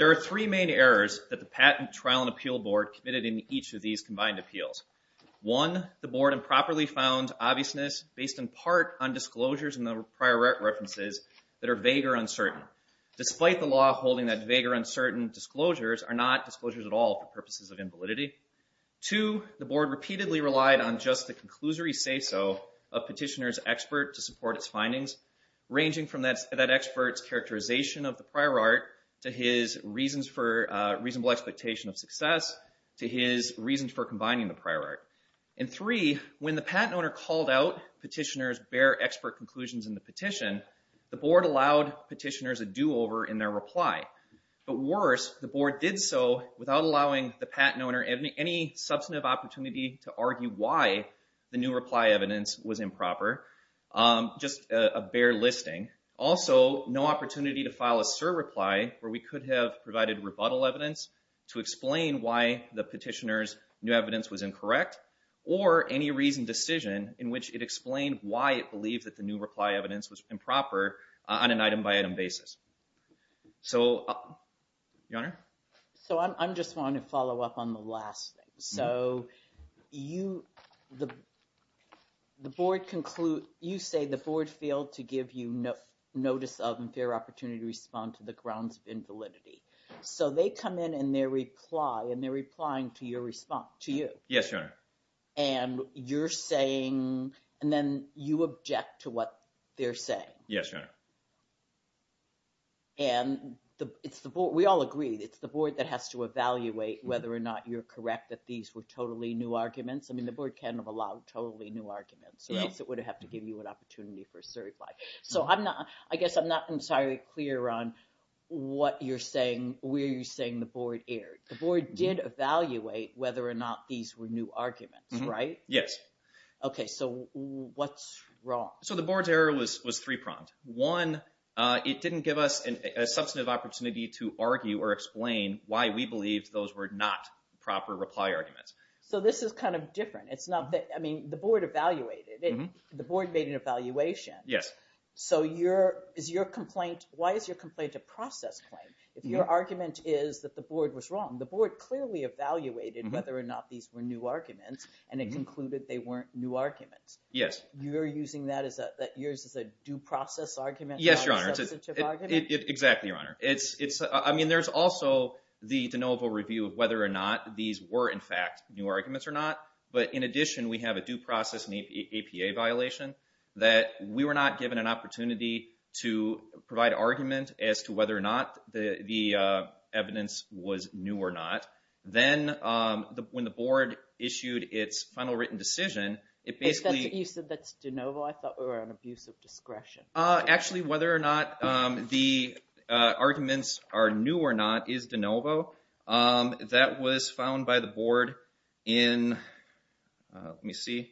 There are three main errors that the Patent Trial and Appeal Board committed in each of these combined appeals. One, the board improperly found obviousness based in part on disclosures in the prior references that are vague or uncertain. Despite the law holding that vague or uncertain disclosures are not disclosures at all for purposes of invalidity. Two, the board repeatedly relied on just the conclusory say-so of petitioner's expert to support its findings, ranging from that expert's characterization of the prior art to his reasonable expectation of success, to his reasons for combining the prior art. And three, when the patent owner called out petitioner's bare expert conclusions in the petition, the board allowed petitioners a do-over in their reply. But worse, the board did so without allowing the patent owner any substantive opportunity to argue why the new reply evidence was improper. Just a bare listing. Also, no opportunity to file a surreply where we could have provided rebuttal evidence to explain why the petitioner's new evidence was incorrect, or any reasoned decision in which it explained why it believed that the new reply evidence was improper on an item-by-item basis. So, Your Honor? So, I just want to follow up on the last thing. So, you – the board conclude – you say the board failed to give you notice of and fair opportunity to respond to the grounds of invalidity. So, they come in and they reply, and they're replying to your response – to you. Yes, Your Honor. And you're saying – and then you object to what they're saying. Yes, Your Honor. And it's the board – we all agree. It's the board that has to evaluate whether or not you're correct that these were totally new arguments. I mean, the board cannot allow totally new arguments, or else it would have to give you an opportunity for a surreply. So, I'm not – I guess I'm not entirely clear on what you're saying – where you're saying the board erred. The board did evaluate whether or not these were new arguments, right? Yes. Okay, so what's wrong? So, the board's error was three-pronged. One, it didn't give us a substantive opportunity to argue or explain why we believed those were not proper reply arguments. So, this is kind of different. It's not that – I mean, the board evaluated it. The board made an evaluation. Yes. So, your – is your complaint – why is your complaint a process claim? If your argument is that the board was wrong, the board clearly evaluated whether or not these were new arguments, and it concluded they weren't new arguments. Yes. So, you're using that as a – yours is a due process argument, not a substantive argument? Yes, Your Honor. Exactly, Your Honor. It's – I mean, there's also the de novo review of whether or not these were, in fact, new arguments or not. But, in addition, we have a due process and APA violation that we were not given an opportunity to provide argument as to whether or not the evidence was new or not. Then, when the board issued its final written decision, it basically – You said that's de novo. I thought we were on abuse of discretion. Actually, whether or not the arguments are new or not is de novo. That was found by the board in – let me see.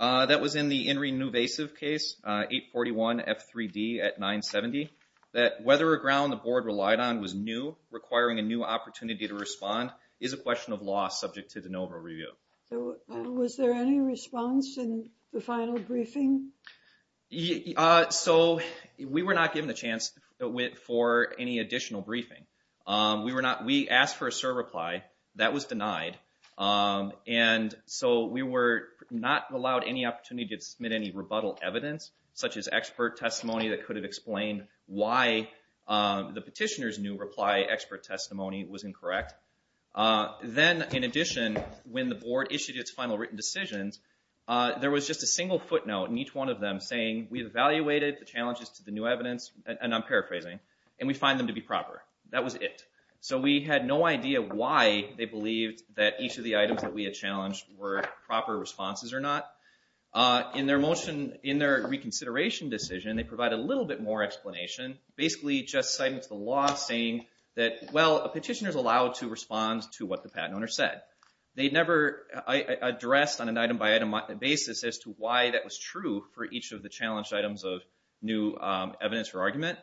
That was in the In Re Nuvasive case, 841 F3D at 970. That whether or not the ground the board relied on was new, requiring a new opportunity to respond, is a question of law subject to de novo review. So, was there any response in the final briefing? So, we were not given a chance for any additional briefing. We asked for a cert reply. That was denied. And so, we were not allowed any opportunity to submit any rebuttal evidence, such as expert testimony that could have explained why the petitioner's new reply expert testimony was incorrect. Then, in addition, when the board issued its final written decisions, there was just a single footnote in each one of them saying, we evaluated the challenges to the new evidence, and I'm paraphrasing, and we find them to be proper. That was it. So, we had no idea why they believed that each of the items that we had challenged were proper responses or not. In their motion – in their reconsideration decision, they provided a little bit more explanation. Basically, just citing the law, saying that, well, a petitioner's allowed to respond to what the patent owner said. They never addressed, on an item-by-item basis, as to why that was true for each of the challenged items of new evidence or argument.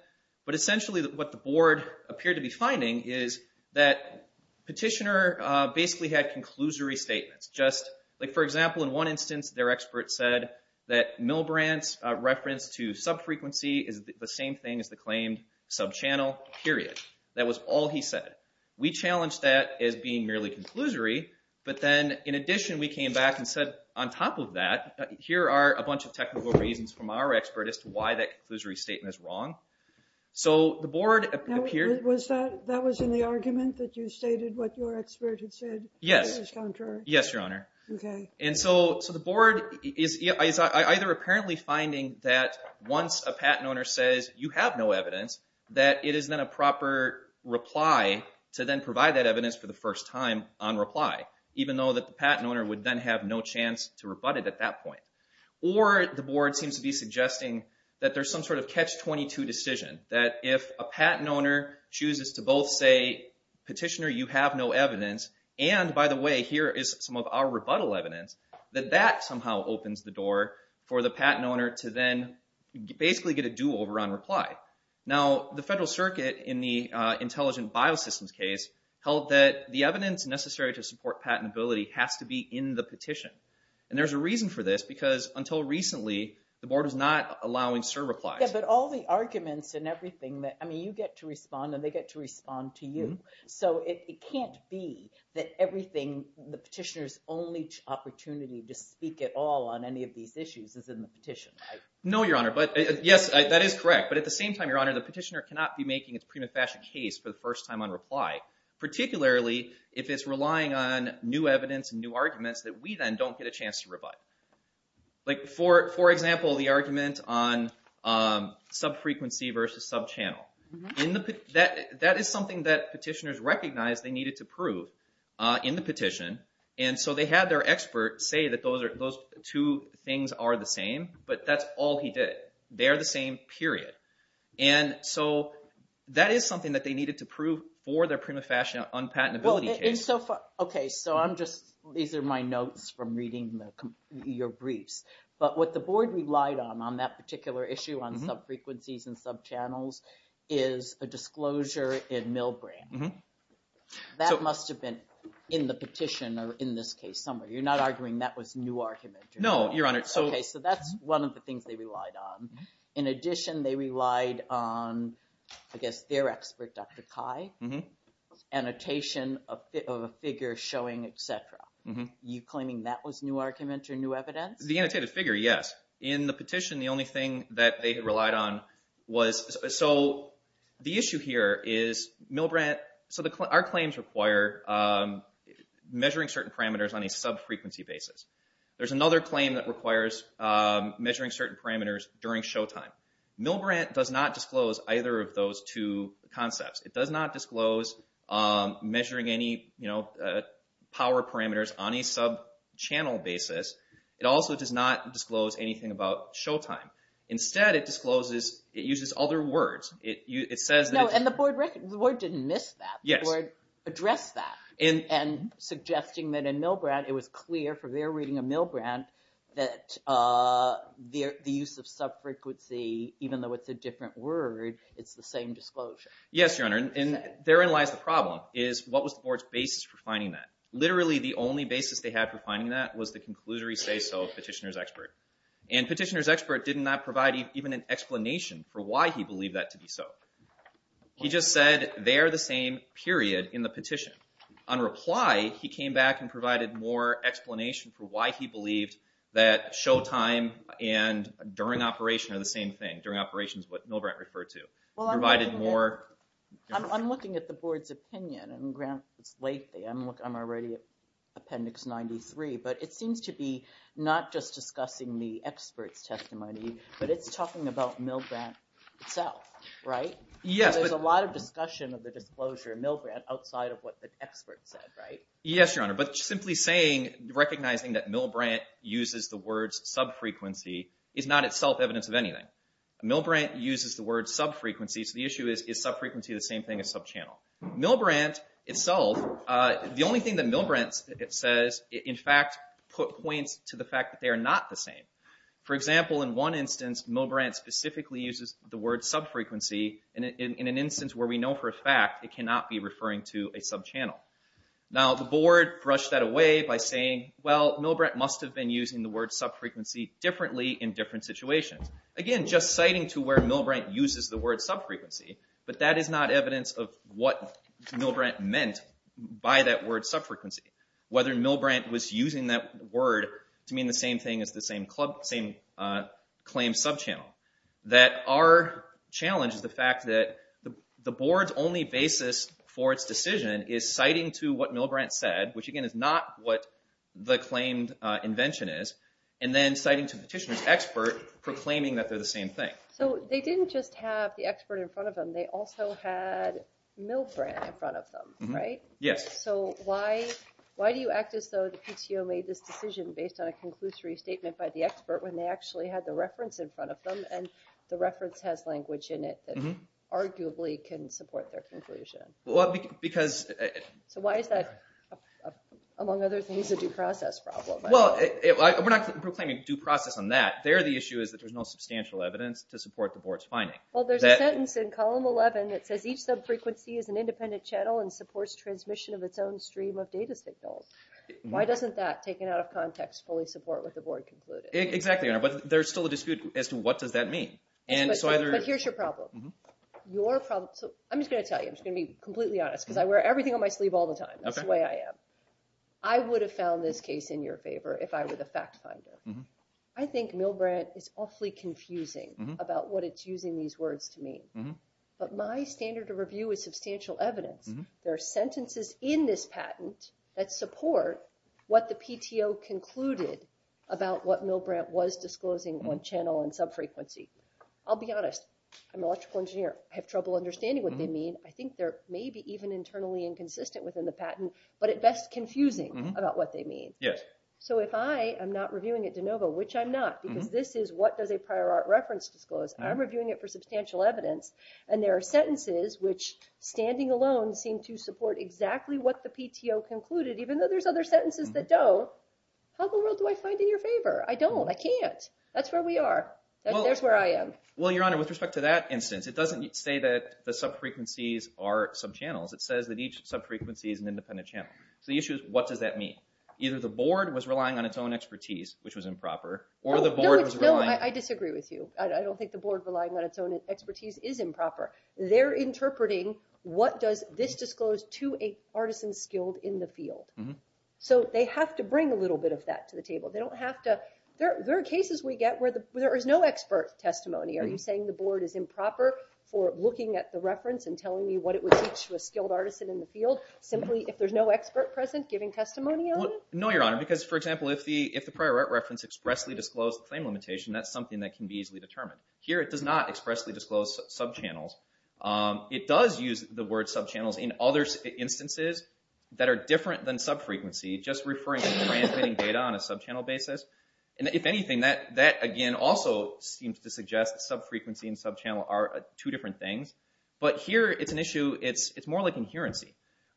But, essentially, what the board appeared to be finding is that petitioner basically had conclusory statements. Just, like, for example, in one instance, their expert said that Milbrandt's reference to subfrequency is the same thing as the claimed subchannel, period. That was all he said. We challenged that as being merely conclusory, but then, in addition, we came back and said, on top of that, here are a bunch of technical reasons from our expert as to why that conclusory statement is wrong. So, the board appeared – Was that – that was in the argument that you stated what your expert had said? Yes. It was contrary? Yes, Your Honor. Okay. And so, the board is either apparently finding that once a patent owner says, you have no evidence, that it is then a proper reply to then provide that evidence for the first time on reply, even though that the patent owner would then have no chance to rebut it at that point. Or, the board seems to be suggesting that there's some sort of catch-22 decision, that if a patent owner chooses to both say, petitioner, you have no evidence, and, by the way, here is some of our rebuttal evidence, that that somehow opens the door for the patent owner to then basically get a do-over on reply. Now, the Federal Circuit, in the Intelligent Biosystems case, held that the evidence necessary to support patentability has to be in the petition. And there's a reason for this because, until recently, the board was not allowing SIR replies. Yeah, but all the arguments and everything that – I mean, you get to respond and they get to respond to you. So, it can't be that everything – the petitioner's only opportunity to speak at all on any of these issues is in the petition, right? No, Your Honor. Yes, that is correct, but at the same time, Your Honor, the petitioner cannot be making its prima facie case for the first time on reply, particularly if it's relying on new evidence and new arguments that we then don't get a chance to rebut. Like, for example, the argument on sub-frequency versus sub-channel. That is something that petitioners recognized they needed to prove in the petition, and so they had their expert say that those two things are the same, but that's all he did. They are the same, period. And so, that is something that they needed to prove for their prima facie unpatentability case. Okay, so I'm just – these are my notes from reading your briefs. But what the board relied on, on that particular issue on sub-frequencies and sub-channels, is a disclosure in Milbrandt. That must have been in the petition or in this case somewhere. You're not arguing that was new argument? No, Your Honor. Okay, so that's one of the things they relied on. In addition, they relied on, I guess, their expert, Dr. Cai, annotation of a figure showing, et cetera. You're claiming that was new argument or new evidence? The annotated figure, yes. In the petition, the only thing that they relied on was – The issue here is Milbrandt – our claims require measuring certain parameters on a sub-frequency basis. There's another claim that requires measuring certain parameters during showtime. Milbrandt does not disclose either of those two concepts. It does not disclose measuring any power parameters on a sub-channel basis. It also does not disclose anything about showtime. Instead, it discloses – it uses other words. No, and the board didn't miss that. The board addressed that in suggesting that in Milbrandt, it was clear from their reading of Milbrandt that the use of sub-frequency, even though it's a different word, it's the same disclosure. Yes, Your Honor, and therein lies the problem, is what was the board's basis for finding that? Literally, the only basis they had for finding that was the conclusory say-so of Petitioner's Expert. And Petitioner's Expert did not provide even an explanation for why he believed that to be so. He just said, they are the same, period, in the petition. On reply, he came back and provided more explanation for why he believed that showtime and during operation are the same thing. During operation is what Milbrandt referred to. Well, I'm looking at the board's opinion, and it's late there. I'm already at Appendix 93, but it seems to be not just discussing the expert's testimony, but it's talking about Milbrandt itself, right? Yes. There's a lot of discussion of the disclosure of Milbrandt outside of what the expert said, right? Yes, Your Honor, but simply saying, recognizing that Milbrandt uses the words sub-frequency is not itself evidence of anything. Milbrandt uses the word sub-frequency, so the issue is, is sub-frequency the same thing as sub-channel? Milbrandt itself, the only thing that Milbrandt says, in fact, points to the fact that they are not the same. For example, in one instance, Milbrandt specifically uses the word sub-frequency in an instance where we know for a fact it cannot be referring to a sub-channel. Now, the board brushed that away by saying, well, Milbrandt must have been using the word sub-frequency differently in different situations. Again, just citing to where Milbrandt uses the word sub-frequency, but that is not evidence of what Milbrandt meant by that word sub-frequency, whether Milbrandt was using that word to mean the same thing as the same claim sub-channel. That our challenge is the fact that the board's only basis for its decision is citing to what Milbrandt said, which, again, is not what the claimed invention is, and then citing to the petitioner's expert proclaiming that they're the same thing. So they didn't just have the expert in front of them. They also had Milbrandt in front of them, right? Yes. So why do you act as though the PTO made this decision based on a conclusory statement by the expert when they actually had the reference in front of them, and the reference has language in it that arguably can support their conclusion? Well, because... So why is that, among other things, a due process problem? Well, we're not proclaiming due process on that. There the issue is that there's no substantial evidence to support the board's finding. Well, there's a sentence in column 11 that says each sub-frequency is an independent channel and supports transmission of its own stream of data signals. Why doesn't that, taken out of context, fully support what the board concluded? Exactly, but there's still a dispute as to what does that mean. But here's your problem. I'm just going to tell you. I'm just going to be completely honest because I wear everything on my sleeve all the time. That's the way I am. I would have found this case in your favor if I were the fact finder. I think Milbrandt is awfully confusing about what it's using these words to mean. But my standard of review is substantial evidence. There are sentences in this patent that support what the PTO concluded about what Milbrandt was disclosing on channel and sub-frequency. I'll be honest. I'm an electrical engineer. I have trouble understanding what they mean. I think they're maybe even internally inconsistent within the patent, but at best confusing about what they mean. Yes. So if I am not reviewing it de novo, which I'm not, because this is what does a prior art reference disclose, I'm reviewing it for substantial evidence, and there are sentences which, standing alone, seem to support exactly what the PTO concluded, even though there's other sentences that don't, how in the world do I find it in your favor? I don't. I can't. That's where we are. There's where I am. Well, Your Honor, with respect to that instance, it doesn't say that the sub-frequencies are sub-channels. It says that each sub-frequency is an independent channel. So the issue is what does that mean? Either the board was relying on its own expertise, which was improper, or the board was relying... No, I disagree with you. I don't think the board relying on its own expertise is improper. They're interpreting what does this disclose to a artisan skilled in the field. So they have to bring a little bit of that to the table. They don't have to... There are cases we get where there is no expert testimony. Are you saying the board is improper for looking at the reference and telling me what it would teach to a skilled artisan in the field simply if there's no expert present giving testimony on it? No, Your Honor, because, for example, if the prior art reference expressly disclosed the claim limitation, that's something that can be easily determined. Here it does not expressly disclose sub-channels. It does use the word sub-channels in other instances that are different than sub-frequency, just referring to transmitting data on a sub-channel basis. And if anything, that, again, also seems to suggest sub-frequency and sub-channel are two different things. But here it's an issue... It's more like inherency.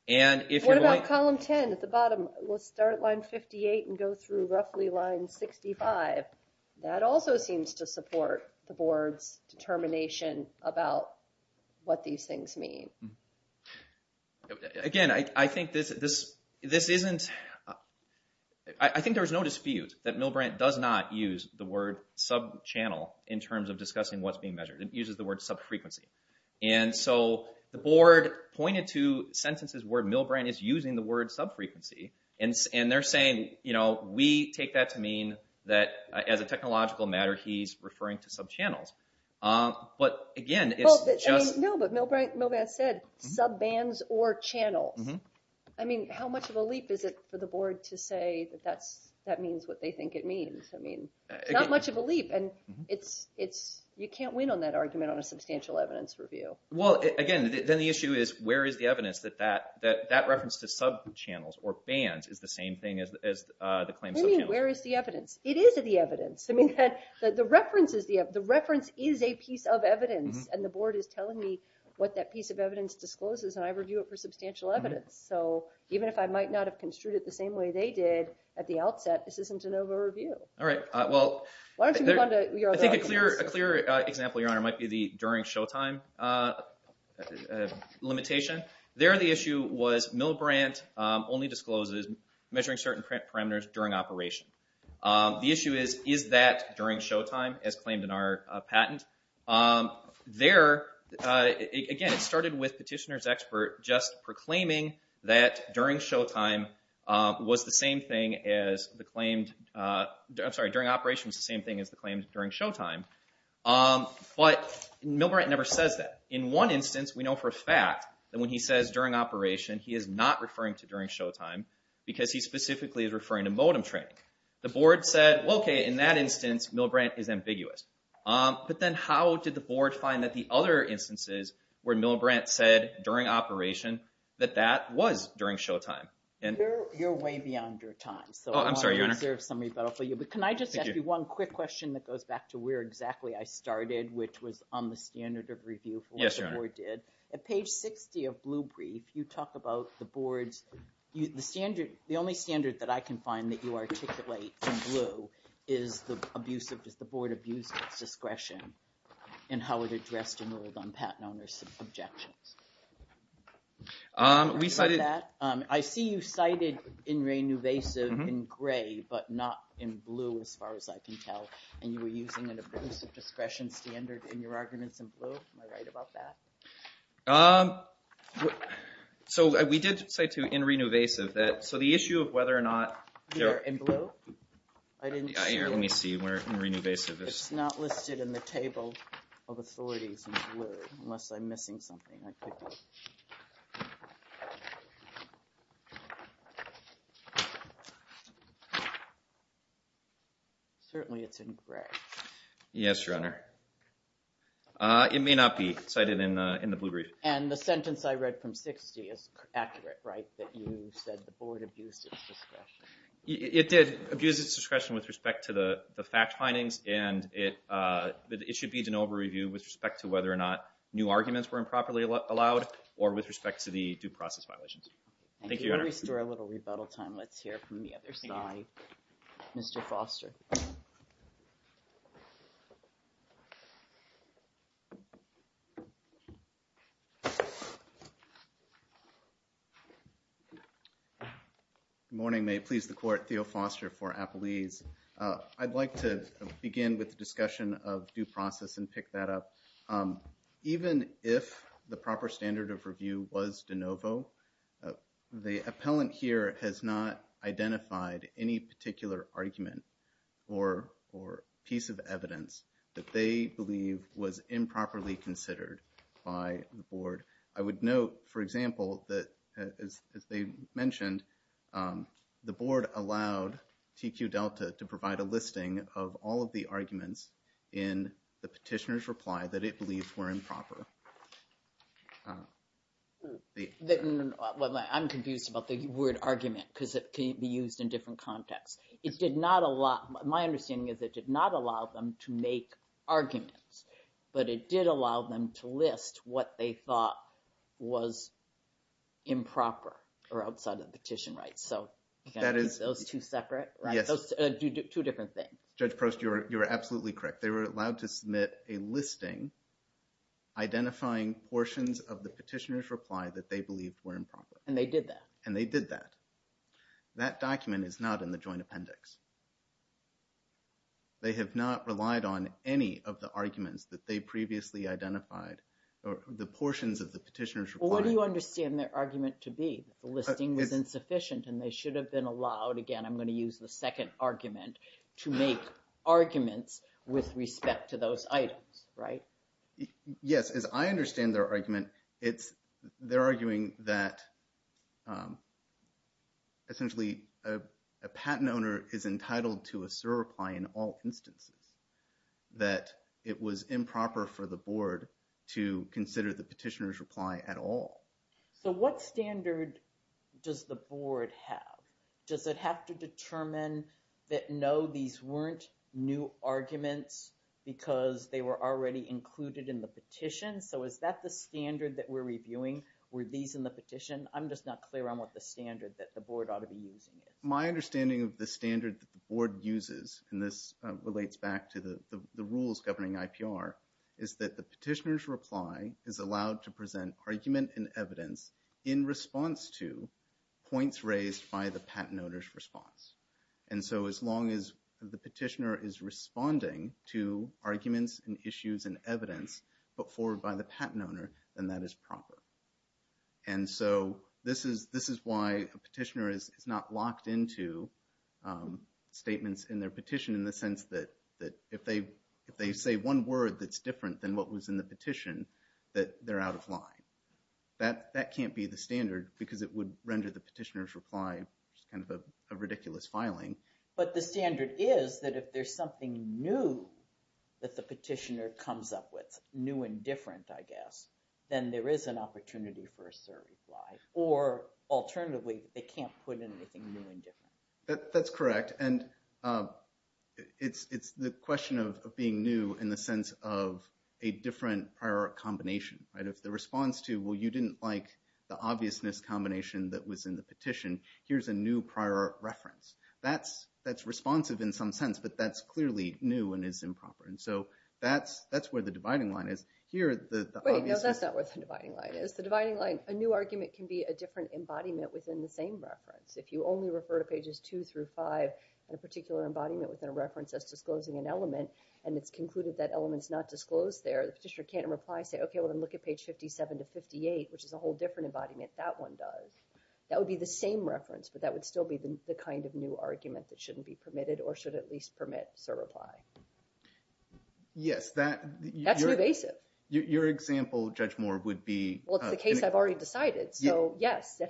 What about column 10 at the bottom? We'll start line 58 and go through roughly line 65. That also seems to support the board's determination about what these things mean. Again, I think this isn't... I think there's no dispute that Milbrandt does not use the word sub-channel in terms of discussing what's being measured. It uses the word sub-frequency. And so the board pointed to sentences where Milbrandt is using the word sub-frequency. And they're saying, you know, we take that to mean that as a technological matter he's referring to sub-channels. But, again, it's just... No, but Milbrandt said sub-bands or channels. I mean, how much of a leap is it for the board to say that that means what they think it means? I mean, not much of a leap. You can't win on that argument on a substantial evidence review. Well, again, then the issue is where is the evidence that that reference to sub-channels or bands is the same thing as the claim sub-channels? What do you mean, where is the evidence? It is the evidence. I mean, the reference is a piece of evidence. And the board is telling me what that piece of evidence discloses and I review it for substantial evidence. So even if I might not have construed it the same way they did at the outset, this isn't a NOVA review. All right, well... Why don't you move on to your other arguments? I think a clear example, Your Honor, might be the during showtime limitation. There the issue was Milbrandt only discloses measuring certain parameters during operation. The issue is, is that during showtime, as claimed in our patent? There, again, it started with Petitioner's Expert just proclaiming that during showtime was the same thing as the claimed... I'm sorry, during operation was the same thing as the claims during showtime. But Milbrandt never says that. In one instance, we know for a fact that when he says during operation, he is not referring to during showtime because he specifically is referring to modem training. The board said, well, okay, in that instance, Milbrandt is ambiguous. But then how did the board find that the other instances where Milbrandt said during operation that that was during showtime? You're way beyond your time. Oh, I'm sorry, Your Honor. Can I just ask you one quick question that goes back to where exactly I started, which was on the standard of review for what the board did. Yes, Your Honor. At page 60 of Blue Brief, you talk about the board's... The only standard that I can find that you articulate in blue is the board abuse of its discretion and how it addressed and ruled on patent owners' objections. We cited... I see you cited in re-invasive in gray, but not in blue as far as I can tell. And you were using an abuse of discretion standard in your arguments in blue. Am I right about that? So we did cite to in re-invasive that... So the issue of whether or not... In blue? I didn't see... Let me see where in re-invasive is. It's not listed in the table of authorities in blue. Unless I'm missing something. Certainly it's in gray. Yes, Your Honor. It may not be cited in the Blue Brief. And the sentence I read from 60 is accurate, right? That you said the board abused its discretion. It did abuse its discretion with respect to the fact findings, and it should be an over-review with respect to whether or not new arguments were improperly allowed or with respect to the due process violations. Thank you, Your Honor. We'll restore a little rebuttal time. Let's hear from the other side. Mr. Foster. Good morning. May it please the court, Theo Foster for Appalese. I'd like to begin with the discussion of due process and pick that up. Even if the proper standard of review was de novo, the appellant here has not identified any particular argument or piece of evidence that they believe was improperly considered by the board. I would note, for example, that, as they mentioned, the board allowed TQ Delta to provide a listing of all of the arguments in the petitioner's reply that it believes were improper. I'm confused about the word argument because it can be used in different contexts. My understanding is it did not allow them to make arguments, but it did allow them to list what they thought was improper or outside of the petition rights. Those two separate? Yes. Two different things. Judge Prost, you are absolutely correct. They were allowed to submit a listing identifying portions of the petitioner's reply that they believed were improper. And they did that? And they did that. That document is not in the joint appendix. They have not relied on any of the arguments that they previously identified or the portions of the petitioner's reply. What do you understand their argument to be? The listing was insufficient and they should have been allowed, again, I'm going to use the second argument, to make arguments with respect to those items, right? Yes. As I understand their argument, they're arguing that essentially a patent owner is entitled to a SIR reply in all instances, that it was improper for the board to consider the petitioner's reply at all. So what standard does the board have? Does it have to determine that no, these weren't new arguments because they were already included in the petition? So is that the standard that we're reviewing? Were these in the petition? I'm just not clear on what the standard that the board ought to be using is. My understanding of the standard that the board uses, and this relates back to the rules governing IPR, is that the petitioner's reply is allowed to present argument and evidence in response to points raised by the patent owner's response. And so as long as the petitioner is responding to arguments and issues and evidence put forward by the patent owner, then that is proper. And so this is why a petitioner is not locked into statements in their petition in the sense that if they say one word that's different than what was in the petition, that they're out of line. That can't be the standard because it would render the petitioner's reply kind of a ridiculous filing. But the standard is that if there's something new that the petitioner comes up with, new and different, I guess, then there is an opportunity for a third reply. Or alternatively, they can't put in anything new and different. That's correct. And it's the question of being new in the sense of a different prior combination. If the response to, well, you didn't like the obviousness combination that was in the petition, here's a new prior reference. That's responsive in some sense, but that's clearly new and is improper. And so that's where the dividing line is. Wait, no, that's not where the dividing line is. The dividing line, a new argument can be a different embodiment within the same reference. If you only refer to pages two through five in a particular embodiment within a reference as disclosing an element, and it's concluded that element's not disclosed there, the petitioner can't reply and say, okay, well, then look at page 57 to 58, which is a whole different embodiment. That one does. That would be the same reference, but that would still be the kind of new argument that shouldn't be permitted or should at least permit a reply. Yes, that... That's pervasive. Your example, Judge Moore, would be... Well, it's the case I've already decided. So, yes,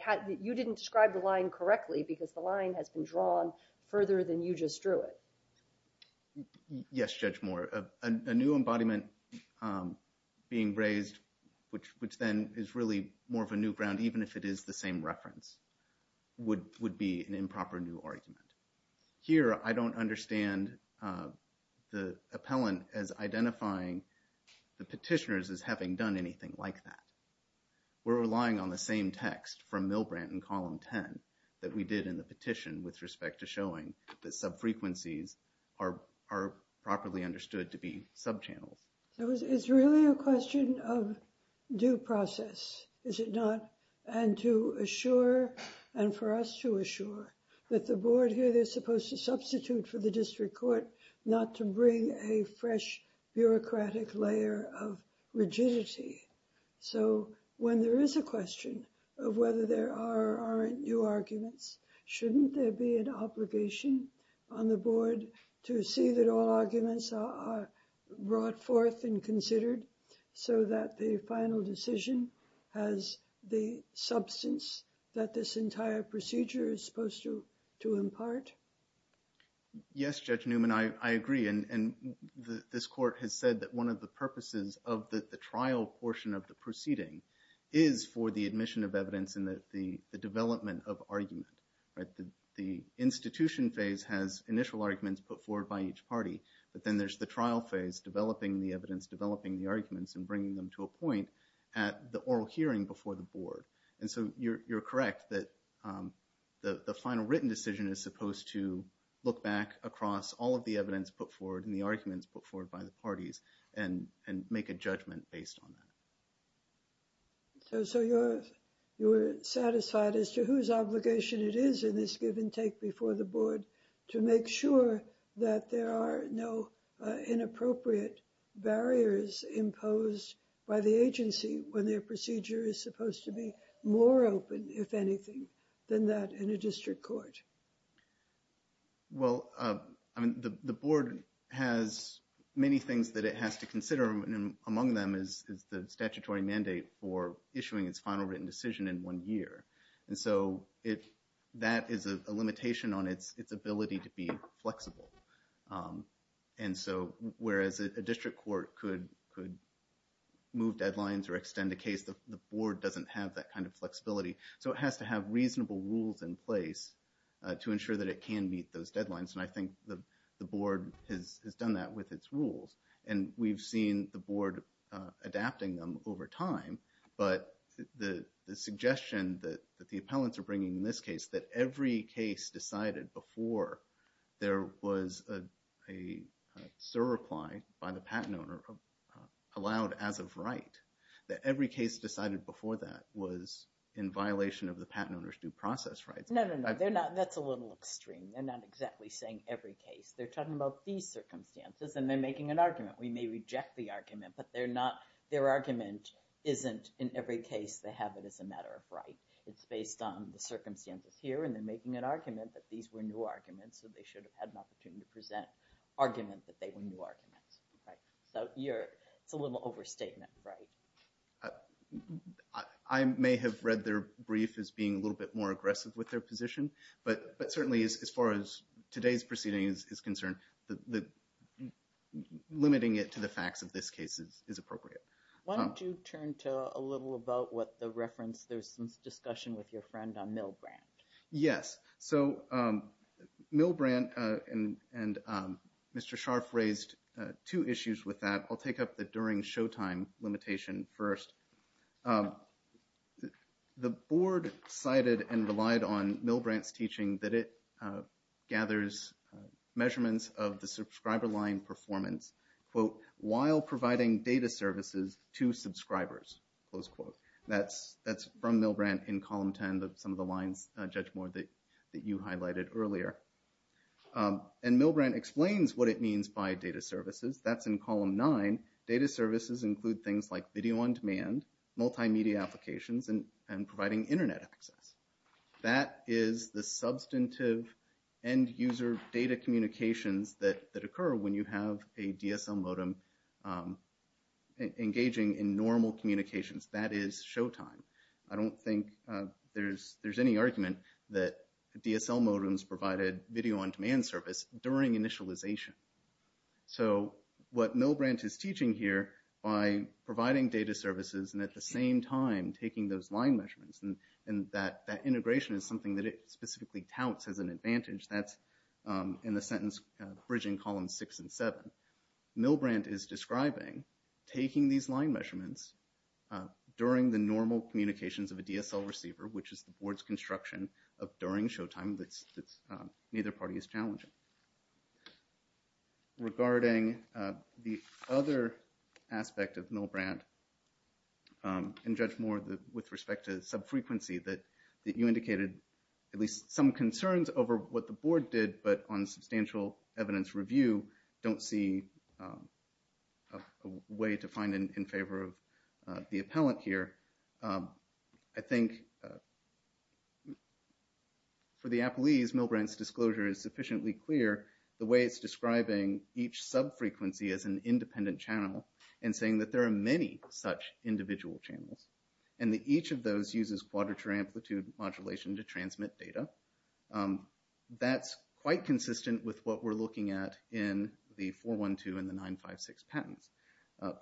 you didn't describe the line correctly because the line has been drawn further than you just drew it. Yes, Judge Moore. A new embodiment being raised, which then is really more of a new ground, even if it is the same reference, would be an improper new argument. Here, I don't understand the appellant as identifying the petitioners as having done anything like that. We're relying on the same text from Milbrandt in column 10 that we did in the petition with respect to showing that sub-frequencies are properly understood to be sub-channels. So, it's really a question of due process, is it not? And to assure, and for us to assure, that the board here, they're supposed to substitute for the district court not to bring a fresh bureaucratic layer of rigidity. So, when there is a question of whether there are or aren't new arguments, shouldn't there be an obligation on the board to see that all arguments are brought forth and considered so that the final decision has the substance that this entire procedure is supposed to impart? Yes, Judge Newman, I agree. And this court has said that one of the purposes of the trial portion of the proceeding is for the admission of evidence and the development of argument. The institution phase has initial arguments put forward by each party, but then there's the trial phase, developing the evidence, developing the arguments, and bringing them to a point at the oral hearing before the board. And so, you're correct that the final written decision is supposed to look back across all of the evidence put forward and the arguments put forward by the parties and make a judgment based on that. So, you're satisfied as to whose obligation it is in this give-and-take before the board to make sure that there are no inappropriate barriers imposed by the agency when their procedure is supposed to be more open, if anything, than that in a district court? Well, I mean, the board has many things that it has to consider, and among them is the statutory mandate for issuing its final written decision in one year. And so, that is a limitation on its ability to be flexible. And so, whereas a district court could move deadlines or extend a case, the board doesn't have that kind of flexibility. So, it has to have reasonable rules in place to ensure that it can meet those deadlines, and I think the board has done that with its rules. And we've seen the board adapting them over time, but the suggestion that the appellants are bringing in this case that every case decided before there was a surreply by the patent owner allowed as of right, that every case decided before that was in violation of the patent owner's due process rights. No, no, no, that's a little extreme. They're not exactly saying every case. They're talking about these circumstances, and they're making an argument. We may reject the argument, but their argument isn't in every case they have it as a matter of right. It's based on the circumstances here, and they're making an argument that these were new arguments, so they should have had an opportunity to present argument that they were new arguments. So, it's a little overstatement, right? I may have read their brief as being a little bit more aggressive with their position, but certainly as far as today's proceeding is concerned, limiting it to the facts of this case is appropriate. Why don't you turn to a little about what the reference, there's some discussion with your friend on Milbrandt. Yes, so Milbrandt and Mr. Scharf raised two issues with that. I'll take up the during showtime limitation first. The board cited and relied on Milbrandt's teaching that it gathers measurements of the subscriber line performance, quote, while providing data services to subscribers, close quote. That's from Milbrandt in column 10, some of the lines, Judge Moore, that you highlighted earlier. And Milbrandt explains what it means by data services. That's in column nine. Data services include things like video on demand, multimedia applications, and providing internet access. That is the substantive end user data communications that occur when you have a DSL modem engaging in normal communications. That is showtime. I don't think there's any argument that DSL modems provided video on demand service during initialization. So what Milbrandt is teaching here by providing data services and at the same time taking those line measurements and that integration is something that it specifically touts as an advantage. That's in the sentence bridging column six and seven. Milbrandt is describing taking these line measurements during the normal communications of a DSL receiver, which is the board's construction of during showtime that neither party is challenging. Regarding the other aspect of Milbrandt and Judge Moore with respect to sub-frequency that you indicated at least some concerns over what the board did but on substantial evidence review don't see a way to find in favor of the appellant here. I think for the appellees, Milbrandt's disclosure is sufficiently clear the way it's describing each sub-frequency as an independent channel and saying that there are many such individual channels and that each of those uses quadrature amplitude modulation to transmit data. That's quite consistent with what we're looking at in the 412 and the 956 patents.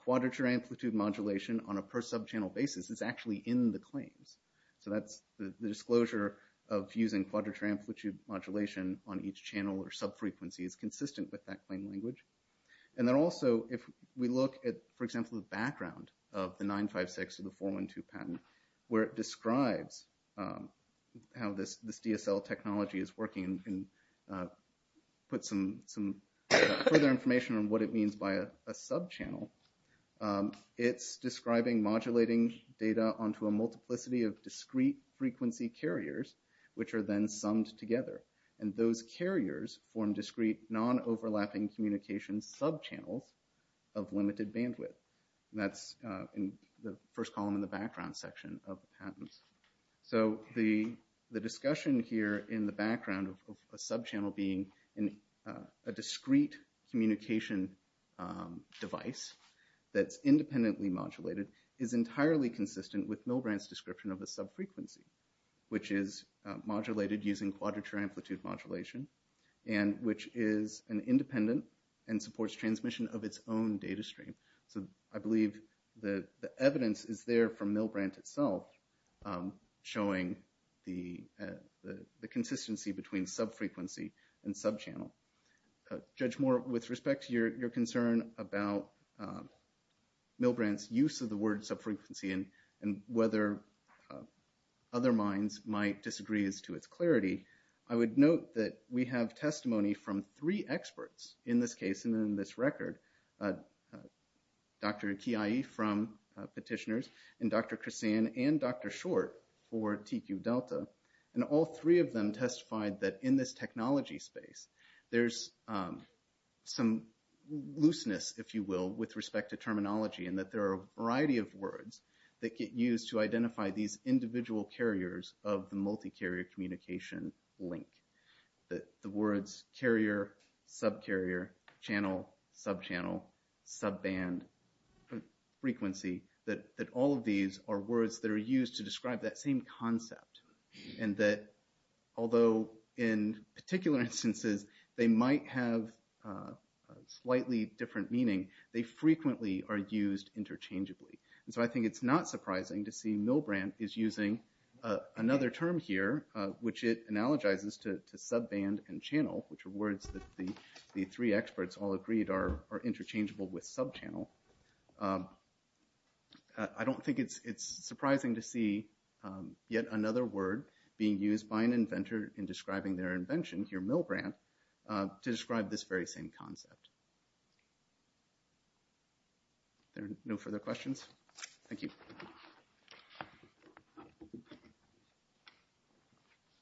Quadrature amplitude modulation on a per sub-channel basis is actually in the claims. So that's the disclosure of using quadrature amplitude modulation on each channel or sub-frequency is consistent with that claim language. And then also if we look at, for example, the background of the 956 to the 412 patent where it describes how this DSL technology is working and put some further information on what it means by a sub-channel. It's describing modulating data onto a multiplicity of discrete frequency carriers which are then summed together. And those carriers form discrete non-overlapping communication sub-channels of limited bandwidth. And that's in the first column in the background section of the patents. So the discussion here in the background of a sub-channel being a discrete communication device that's independently modulated is entirely consistent with Milbrandt's description of a sub-frequency, which is modulated using quadrature amplitude modulation and which is an independent and supports transmission of its own data stream. So I believe that the evidence is there from Milbrandt itself showing the consistency between sub-frequency and sub-channel. Judge Moore, with respect to your concern about Milbrandt's use of the word sub-frequency and whether other minds might disagree as to its clarity, I would note that we have testimony from three experts in this case and in this record. Dr. Kiai from Petitioners and Dr. Chrissan and Dr. Short for TQ Delta. And all three of them testified that in this technology space, there's some looseness, if you will, with respect to terminology and that there are a variety of words that get used to identify these individual carriers of the multi-carrier communication link. The words carrier, sub-carrier, channel, sub-channel, sub-band, frequency, that all of these are words that are used to describe that same concept and that, although in particular instances, they might have a slightly different meaning, they frequently are used interchangeably. And so I think it's not surprising to see Milbrandt is using another term here, which it analogizes to sub-band and channel, which are words that the three experts all agreed are interchangeable with sub-channel. I don't think it's surprising to see yet another word being used by an inventor in describing their invention here, Milbrandt, to describe this very same concept. Are there no further questions? Thank you.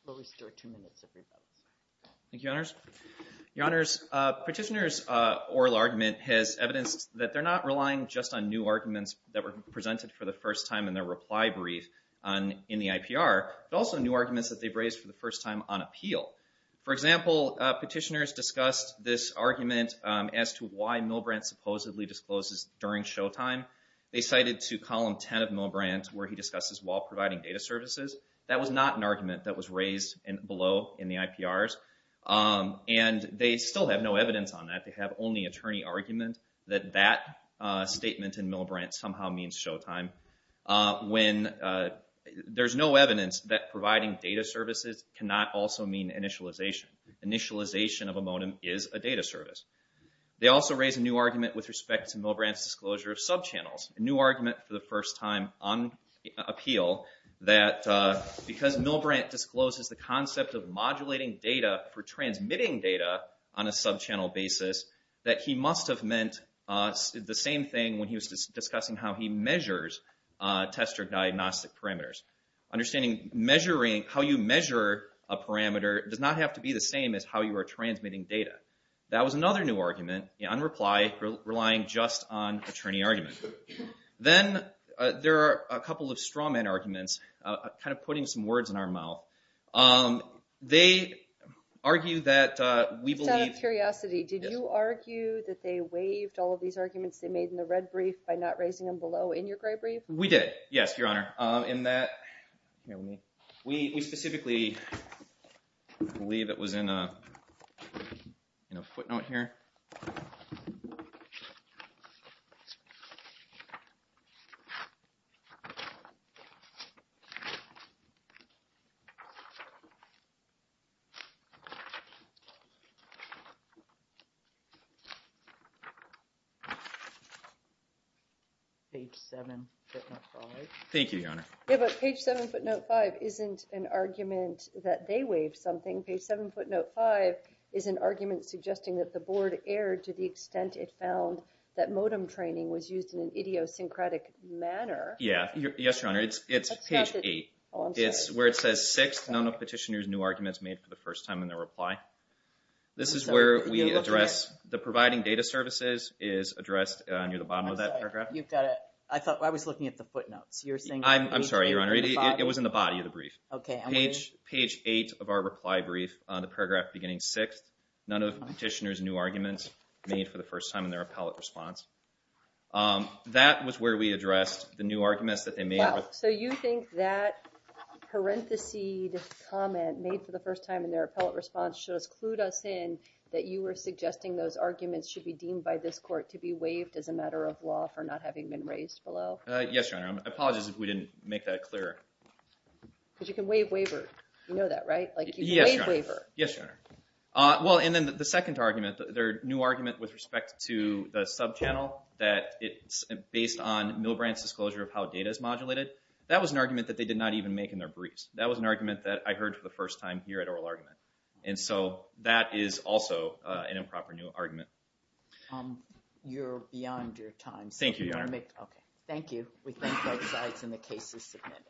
We'll restore two minutes of your time. Thank you, Your Honors. Your Honors, petitioner's oral argument has evidenced that they're not relying just on new arguments that were presented for the first time in their reply brief in the IPR, but also new arguments that they've raised for the first time on appeal. For example, petitioners discussed this argument as to why Milbrandt supposedly discloses during showtime. They cited to column 10 of Milbrandt where he discusses while providing data services. That was not an argument that was raised below in the IPRs. And they still have no evidence on that. They have only attorney argument that that statement in Milbrandt somehow means showtime, when there's no evidence that providing data services cannot also mean initialization. Initialization of a modem is a data service. They also raise a new argument with respect to Milbrandt's disclosure of subchannels. A new argument for the first time on appeal that because Milbrandt discloses the concept of modulating data for transmitting data on a subchannel basis, that he must have meant the same thing when he was discussing how he measures tester diagnostic parameters. Understanding how you measure a parameter does not have to be the same as how you are transmitting data. That was another new argument, in reply, relying just on attorney argument. Then there are a couple of strawman arguments, kind of putting some words in our mouth. They argue that we believe... Out of curiosity, did you argue that they waived all of these arguments they made in the red brief by not raising them below in your gray brief? We did, yes, Your Honor. In that... We specifically believe it was in a footnote here. Page 7, footnote 5. Thank you, Your Honor. Yeah, but page 7, footnote 5 isn't an argument that they waived something. Page 7, footnote 5 is an argument suggesting that the board erred to the extent it found that modem training was used in an idiosyncratic manner. Yeah, yes, Your Honor. It's page 8. It's where it says, sixth, none of petitioners' new arguments made for the first time in their reply. This is where we address... is addressed near the bottom of that paragraph. I thought I was looking at the footnotes. You're saying... I'm sorry, Your Honor. It was in the body of the brief. Page 8 of our reply brief, the paragraph beginning sixth, none of petitioners' new arguments made for the first time in their appellate response. That was where we addressed the new arguments that they made. So you think that parenthesed comment made for the first time in their appellate response should have clued us in that you were suggesting those arguments should be deemed by this court to be waived as a matter of law for not having been raised below? Yes, Your Honor. I apologize if we didn't make that clearer. Because you can waive waiver. You know that, right? You can waive waiver. Yes, Your Honor. Well, and then the second argument, their new argument with respect to the subchannel that it's based on Milbrandt's disclosure of how data is modulated, that was an argument that they did not even make in their briefs. That was an argument that I heard for the first time here at Oral Argument. And so that is also an improper new argument. You're beyond your time. Thank you, Your Honor. Okay, thank you. We thank both sides and the case is submitted.